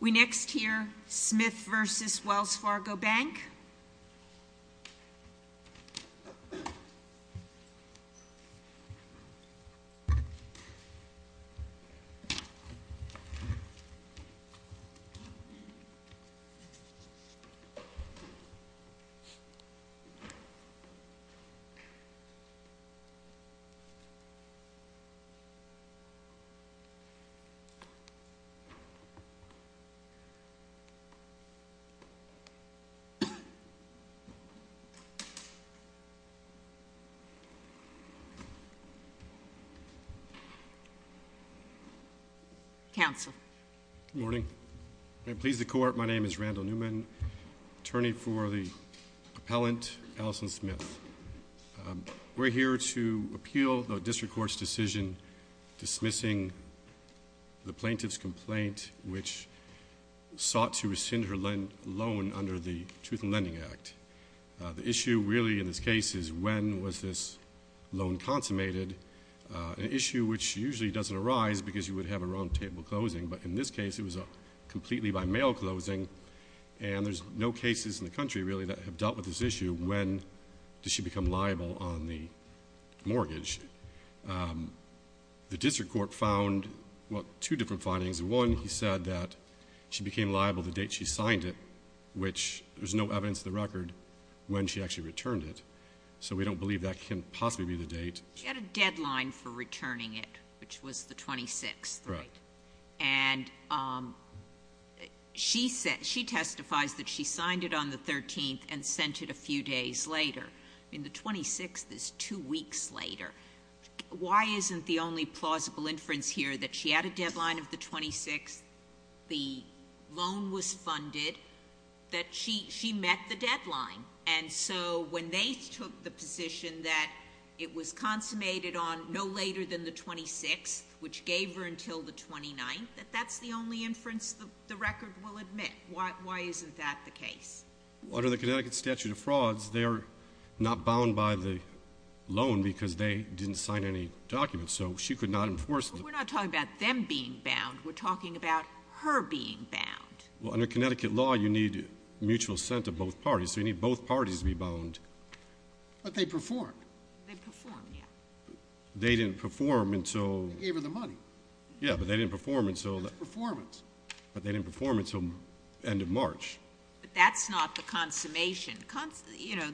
We next hear Smith v. Wells Fargo Bank. RANDALL NEWMAN, ATTORNEY FOR THE APPELLANT, ALISON SMITH, DISTRICT COURT Good morning. May it please the Court, my name is Randall Newman, attorney for the appellant Alison Smith. We are here to appeal the District Court's decision dismissing the plaintiff's complaint which sought to rescind her loan under the Truth in Lending Act. The issue really in this case is when was this loan consummated, an issue which usually doesn't arise because you would have a wrong table closing, but in this case it was a completely by mail closing and there's no cases in the country really that have dealt with this issue when does she become liable on the mortgage. Which the District Court found, well, two different findings, one he said that she became liable the date she signed it, which there's no evidence of the record when she actually returned it. So we don't believe that can possibly be the date. She had a deadline for returning it, which was the 26th, right? And she said, she testifies that she signed it on the 13th and sent it a few days later. I mean, the 26th is two weeks later. Why isn't the only plausible inference here that she had a deadline of the 26th, the loan was funded, that she met the deadline? And so when they took the position that it was consummated on no later than the 26th, which gave her until the 29th, that that's the only inference the record will admit. Why isn't that the case? Under the Connecticut statute of frauds, they're not bound by the loan because they didn't sign any documents. So she could not enforce it. But we're not talking about them being bound. We're talking about her being bound. Well, under Connecticut law, you need mutual assent of both parties. So you need both parties to be bound. But they performed. They performed, yeah. They didn't perform until... They gave her the money. That's performance. But they didn't perform until the end of March. But that's not the consummation. You know,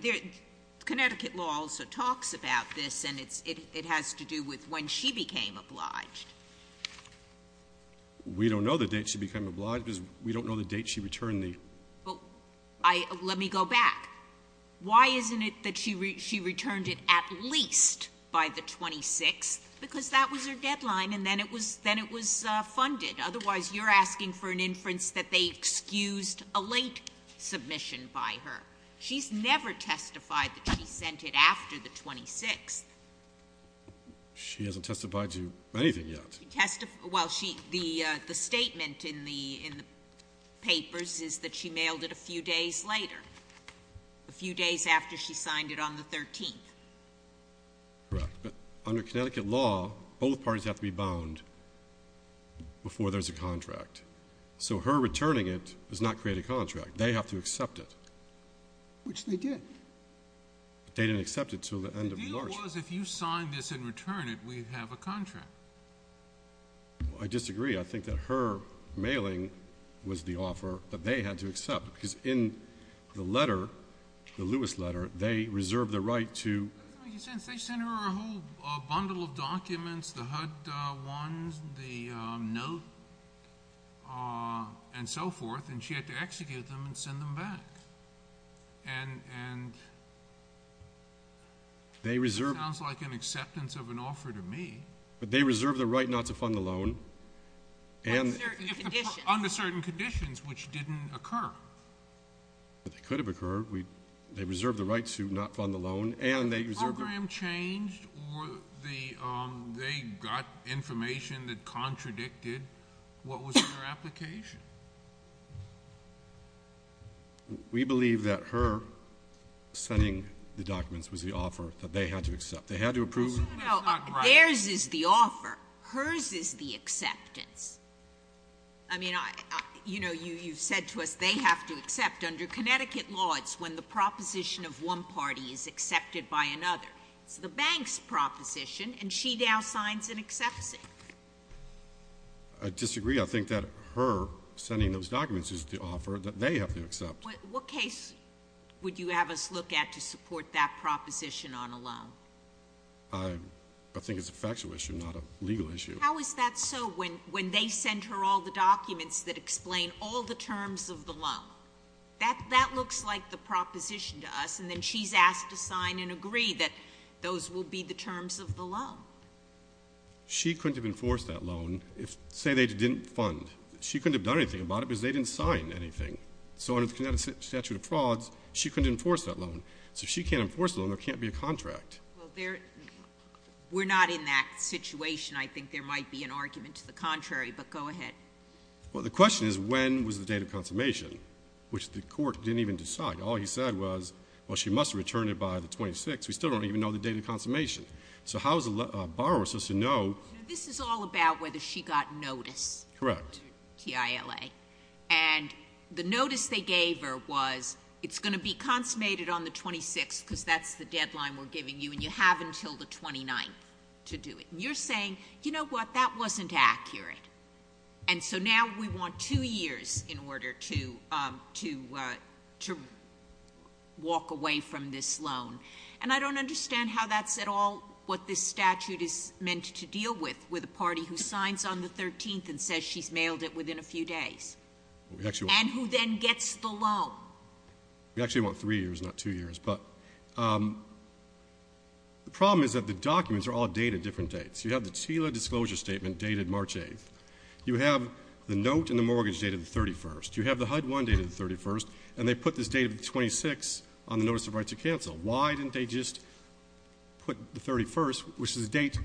Connecticut law also talks about this, and it has to do with when she became obliged. We don't know the date she became obliged because we don't know the date she returned the... Well, let me go back. Why isn't it that she returned it at least by the 26th? Because that was her deadline, and then it was funded. Otherwise, you're asking for an inference that they excused a late submission by her. She's never testified that she sent it after the 26th. She hasn't testified to anything yet. Well, the statement in the papers is that she mailed it a few days later. A few days after she signed it on the 13th. Correct. But under Connecticut law, both parties have to be bound before there's a contract. So her returning it does not create a contract. They have to accept it. Which they did. But they didn't accept it until the end of March. The deal was if you sign this and return it, we have a contract. I disagree. I think that her mailing was the offer that they had to accept. Because in the letter, the Lewis letter, they reserved the right to... They sent her a whole bundle of documents, the HUD ones, the note, and so forth. And she had to execute them and send them back. And... They reserved... It sounds like an acceptance of an offer to me. But they reserved the right not to fund the loan. Under certain conditions. Under certain conditions, which didn't occur. But they could have occurred. They reserved the right to not fund the loan. The program changed? Or they got information that contradicted what was in her application? We believe that her sending the documents was the offer that they had to accept. They had to approve... Theirs is the offer. Hers is the acceptance. I mean, you know, you said to us they have to accept. Under Connecticut law, it's when the proposition of one party is accepted by another. It's the bank's proposition, and she now signs and accepts it. I disagree. I think that her sending those documents is the offer that they have to accept. What case would you have us look at to support that proposition on a loan? I think it's a factual issue, not a legal issue. How is that so, when they sent her all the documents that explain all the terms of the loan? That looks like the proposition to us, and then she's asked to sign and agree that those will be the terms of the loan. She couldn't have enforced that loan if, say, they didn't fund. She couldn't have done anything about it because they didn't sign anything. So under the Connecticut statute of frauds, she couldn't enforce that loan. So if she can't enforce the loan, there can't be a contract. We're not in that situation. I think there might be an argument to the contrary, but go ahead. Well, the question is when was the date of consummation? Which the court didn't even decide. All he said was, well, she must have returned it by the 26th. We still don't even know the date of consummation. So how is a borrower supposed to know? This is all about whether she got notice. Correct. TILA. And the notice they gave her was, it's going to be consummated on the 26th because that's the deadline we're giving you, and you have until the 29th to do it. And you're saying, you know what, that wasn't accurate. And so now we want two years in order to walk away from this loan. And I don't understand how that's at all what this statute is meant to deal with, with a party who signs on the 13th and says she's mailed it within a few days. And who then gets the loan. We actually want three years, not two years. But the problem is that the documents are all dated different dates. You have the TILA disclosure statement dated March 8th. You have the note and the mortgage dated the 31st. You have the HUD-1 dated the 31st. And they put this date of the 26th on the notice of right to cancel. Why didn't they just put the 31st, which is the date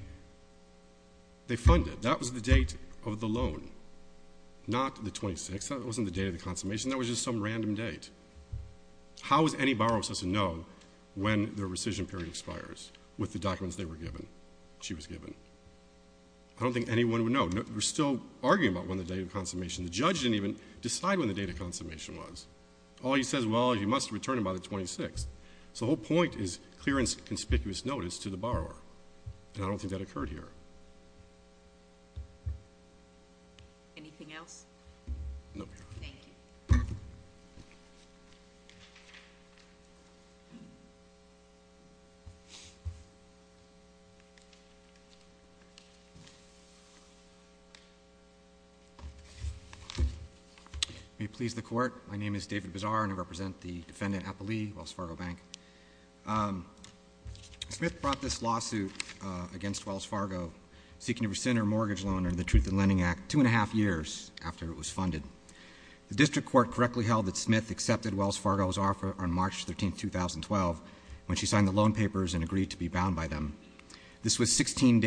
they funded? That was the date of the loan, not the 26th. That wasn't the date of the consummation. That was just some random date. How is any borrower supposed to know when their rescission period expires with the documents they were given, she was given? I don't think anyone would know. We're still arguing about when the date of consummation. The judge didn't even decide when the date of consummation was. All he says, well, you must have returned it by the 26th. So the whole point is clear and conspicuous notice to the borrower. And I don't think that occurred here. Anything else? No, ma'am. Thank you. May it please the Court. My name is David Bizar and I represent the Defendant Appley, Wells Fargo Bank. Smith brought this lawsuit against Wells Fargo seeking to rescind her mortgage loan under the Truth in Lending Act two and a half years after it was funded. The district court correctly held that Smith accepted Wells Fargo's offer on March 13, 2012 when she signed the loan papers and agreed to be bound by them. This was 16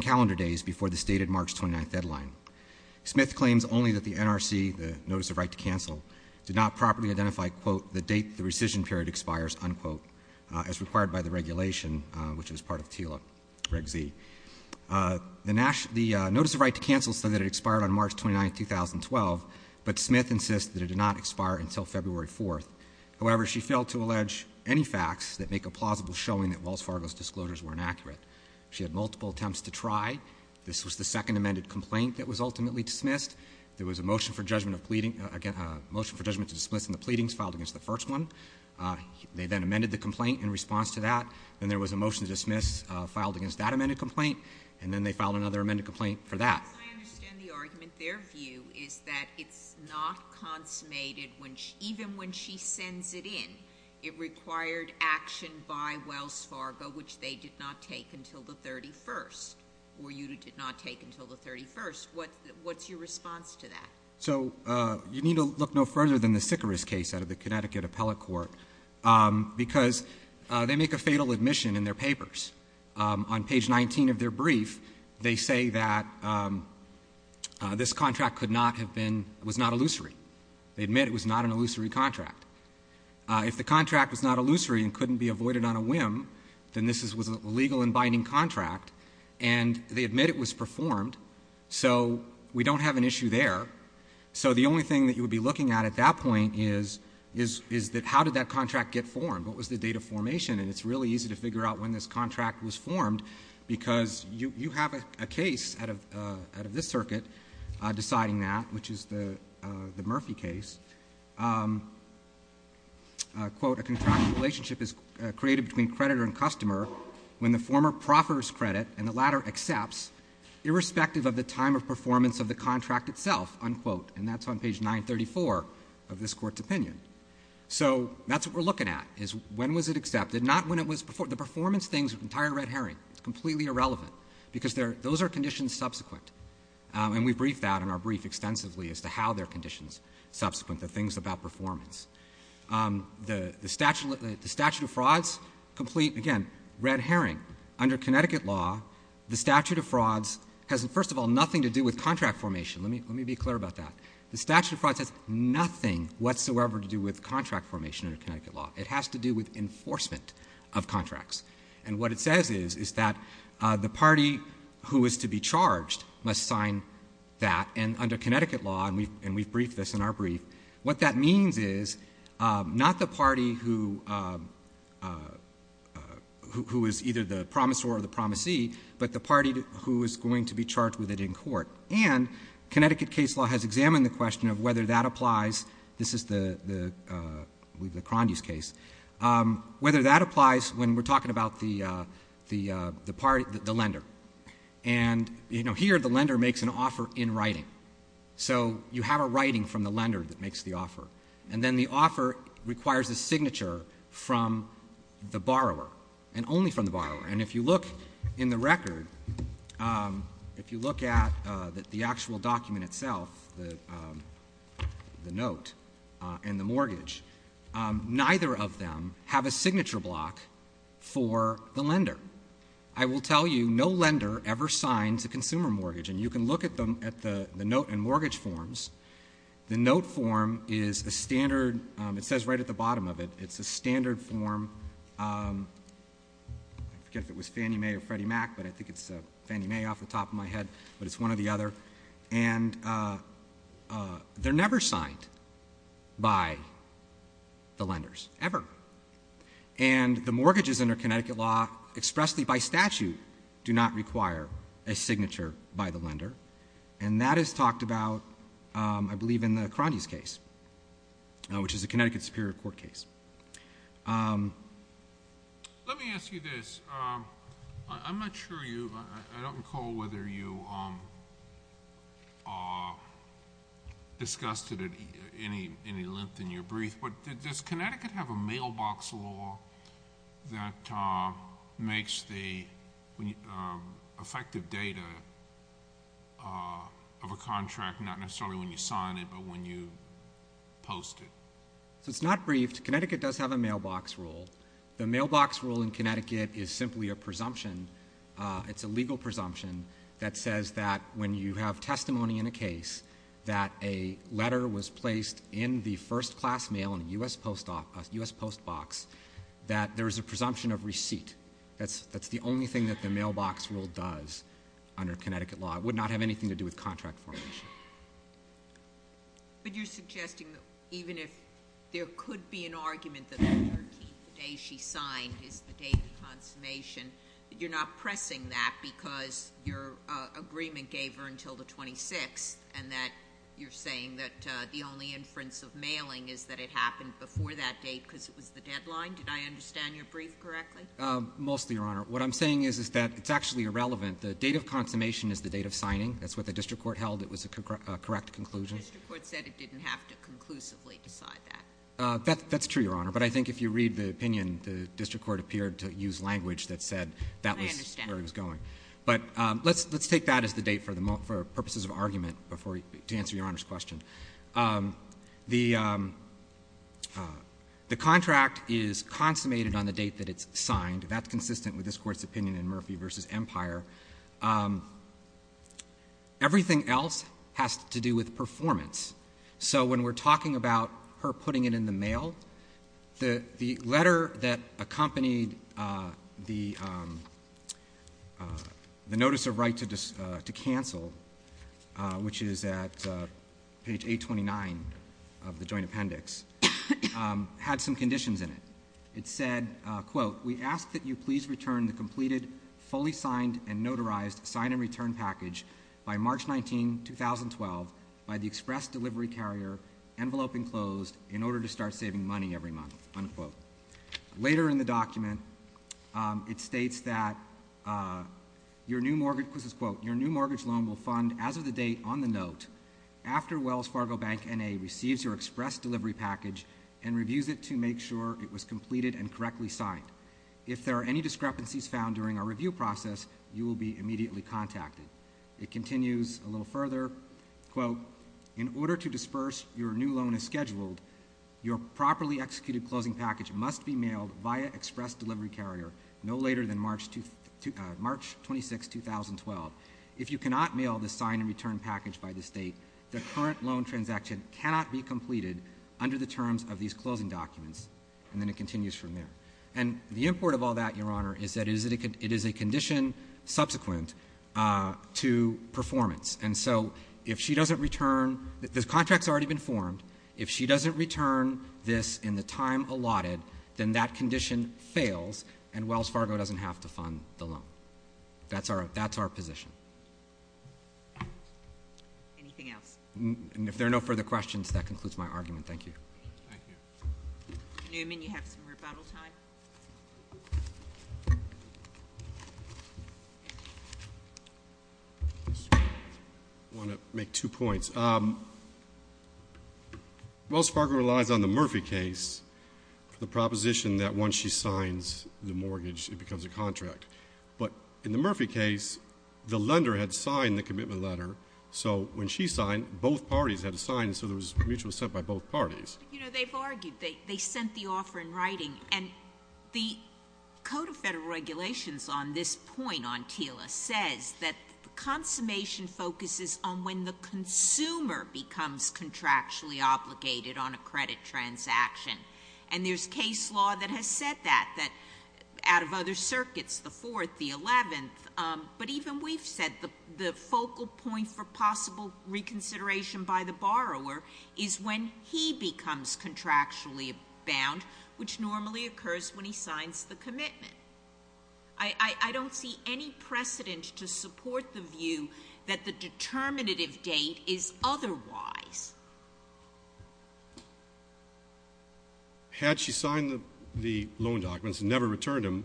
calendar days before the stated March 29 deadline. Smith claims only that the NRC, the Notice of Right to Cancel, did not properly identify, quote, the date the rescission period expires, unquote, as required by the regulation, which was part of TILA Reg Z. The Notice of Right to Cancel said that it expired on March 29, 2012, but Smith insists that it did not expire until February 4. However, she failed to allege any facts that make a plausible showing that Wells Fargo's disclosures were inaccurate. She had multiple attempts to try. This was the second amended complaint that was ultimately dismissed. There was a motion for judgment to dismiss in the pleadings filed against the first one. They then amended the complaint in response to that. Then there was a motion to dismiss filed against that amended complaint, and then they filed another amended complaint for that. Sotomayor, I understand the argument. Their view is that it's not consummated. Even when she sends it in, it required action by Wells Fargo, which they did not take until the 31st, or you did not take until the 31st. What's your response to that? So you need to look no further than the Sycharis case out of the Connecticut Appellate Court, because they make a fatal admission in their papers. On page 19 of their brief, they say that this contract could not have been, was not illusory. They admit it was not an illusory contract. If the contract was not illusory and couldn't be avoided on a whim, then this was a legal and binding contract, and they admit it was performed, so we don't have an issue there. So the only thing that you would be looking at at that point is, is that how did that contract get formed? What was the date of formation? And it's really easy to figure out when this contract was formed, because you have a case out of this circuit deciding that, which is the Murphy case. Quote, a contractual relationship is created between creditor and customer when the former proffers credit and the latter accepts, irrespective of the time of performance of the contract itself, unquote. So that's what we're looking at, is when was it accepted? Not when it was performed. The performance things, the entire red herring, it's completely irrelevant, because those are conditions subsequent. And we briefed that in our brief extensively as to how they're conditions subsequent, the things about performance. The statute of frauds complete, again, red herring. Under Connecticut law, the statute of frauds has, first of all, nothing to do with contract formation. Let me be clear about that. The statute of frauds has nothing whatsoever to do with contract formation under Connecticut law. It has to do with enforcement of contracts. And what it says is, is that the party who is to be charged must sign that. And under Connecticut law, and we've briefed this in our brief, what that means is not the party who is either the promisor or the promisee, but the party who is going to be charged with it in court. And Connecticut case law has examined the question of whether that applies, this is the Crandus case, whether that applies when we're talking about the lender. And, you know, here the lender makes an offer in writing. So you have a writing from the lender that makes the offer. And then the offer requires a signature from the borrower, and only from the borrower. And if you look in the record, if you look at the actual document itself, the note and the mortgage, neither of them have a signature block for the lender. I will tell you, no lender ever signs a consumer mortgage. And you can look at the note and mortgage forms. The note form is a standard, it says right at the bottom of it, it's a standard form. I forget if it was Fannie Mae or Freddie Mac, but I think it's Fannie Mae off the top of my head, but it's one or the other. And they're never signed by the lenders, ever. And the mortgages under Connecticut law expressly by statute do not require a signature by the lender. And that is talked about, I believe, in the Crandus case, which is a Connecticut Superior Court case. Let me ask you this. I'm not sure you, I don't recall whether you discussed it at any length in your brief, but does Connecticut have a mailbox law that makes the effective data of a contract, not necessarily when you sign it, but when you post it? So it's not briefed. Connecticut does have a mailbox rule. The mailbox rule in Connecticut is simply a presumption. It's a legal presumption that says that when you have testimony in a case that a letter was placed in the first class mail in a U.S. post box, that there is a presumption of receipt. That's the only thing that the mailbox rule does under Connecticut law. It would not have anything to do with contract formation. But you're suggesting that even if there could be an argument that the 13th, the day she signed, is the date of consummation, that you're not pressing that because your agreement gave her until the 26th and that you're saying that the only inference of mailing is that it happened before that date because it was the deadline? Did I understand your brief correctly? Mostly, Your Honor. What I'm saying is that it's actually irrelevant. The date of consummation is the date of signing. That's what the district court held. It was a correct conclusion. The district court said it didn't have to conclusively decide that. That's true, Your Honor. But I think if you read the opinion, the district court appeared to use language that said that was where it was going. I understand. But let's take that as the date for purposes of argument to answer Your Honor's question. The contract is consummated on the date that it's signed. That's consistent with this Court's opinion in Murphy v. Empire. Everything else has to do with performance. So when we're talking about her putting it in the mail, the letter that accompanied the notice of right to cancel, which is at page 829 of the joint appendix, had some conditions in it. It said, quote, we ask that you please return the completed, fully signed, and notarized sign-and-return package by March 19, 2012, by the express delivery carrier, envelope enclosed, in order to start saving money every month, unquote. Later in the document, it states that your new mortgage, this is quote, your new mortgage loan will fund as of the date on the note, after Wells Fargo Bank N.A. receives your express delivery package and reviews it to make sure it was completed and correctly signed. If there are any discrepancies found during our review process, you will be immediately contacted. It continues a little further, quote, in order to disperse your new loan as scheduled, your properly executed closing package must be mailed via express delivery carrier no later than March 26, 2012. If you cannot mail the sign-and-return package by this date, the current loan transaction cannot be completed under the terms of these closing documents. And then it continues from there. And the import of all that, Your Honor, is that it is a condition subsequent to performance. And so if she doesn't return, the contract's already been formed. If she doesn't return this in the time allotted, then that condition fails and Wells Fargo doesn't have to fund the loan. That's our position. Anything else? And if there are no further questions, that concludes my argument. Thank you. Thank you. Newman, you have some rebuttal time. I want to make two points. First, Wells Fargo relies on the Murphy case for the proposition that once she signs the mortgage, it becomes a contract. But in the Murphy case, the lender had signed the commitment letter, so when she signed, both parties had to sign, and so there was mutual assent by both parties. You know, they've argued. They sent the offer in writing. And the Code of Federal Regulations on this point, on TILA, says that consummation focuses on when the consumer becomes contractually obligated on a credit transaction. And there's case law that has said that, that out of other circuits, the Fourth, the Eleventh, but even we've said the focal point for possible reconsideration by the borrower is when he becomes contractually bound, which normally occurs when he signs the commitment. I don't see any precedent to support the view that the determinative date is otherwise. Had she signed the loan documents and never returned them,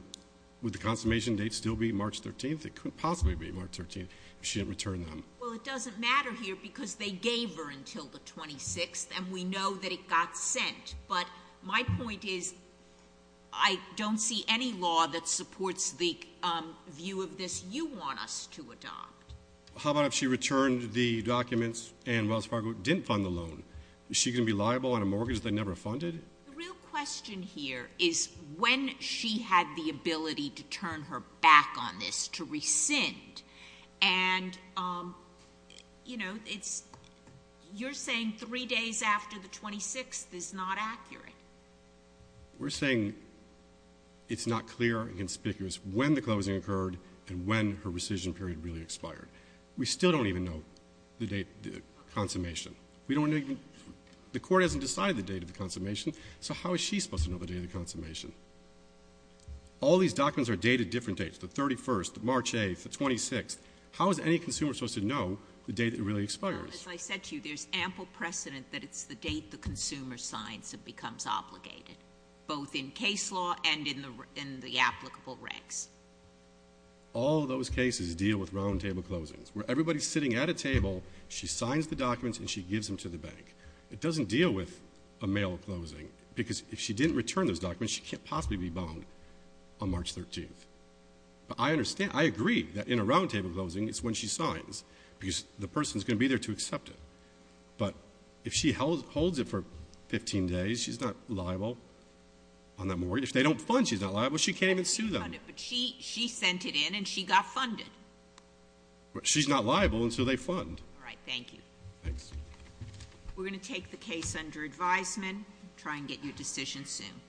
would the consummation date still be March 13th? It couldn't possibly be March 13th if she didn't return them. Well, it doesn't matter here because they gave her until the 26th, and we know that it got sent. But my point is I don't see any law that supports the view of this you want us to adopt. How about if she returned the documents and Wells Fargo didn't fund the loan? Is she going to be liable on a mortgage they never funded? The real question here is when she had the ability to turn her back on this, to rescind. And, you know, it's you're saying three days after the 26th is not accurate. We're saying it's not clear and conspicuous when the closing occurred and when her rescission period really expired. We still don't even know the date of the consummation. We don't even the Court hasn't decided the date of the consummation, so how is she supposed to know the date of the consummation? All these documents are dated different dates, the 31st, the March 8th, the 26th. How is any consumer supposed to know the date it really expires? Well, as I said to you, there's ample precedent that it's the date the consumer signs and becomes obligated, both in case law and in the applicable regs. All those cases deal with roundtable closings where everybody's sitting at a table, she signs the documents, and she gives them to the bank. It doesn't deal with a mail closing because if she didn't return those documents, she can't possibly be bound on March 13th. But I understand, I agree that in a roundtable closing, it's when she signs because the person's going to be there to accept it. But if she holds it for 15 days, she's not liable on that morning. If they don't fund, she's not liable. She can't even sue them. But she sent it in and she got funded. She's not liable until they fund. All right, thank you. Thanks. We're going to take the case under advisement, try and get you a decision soon.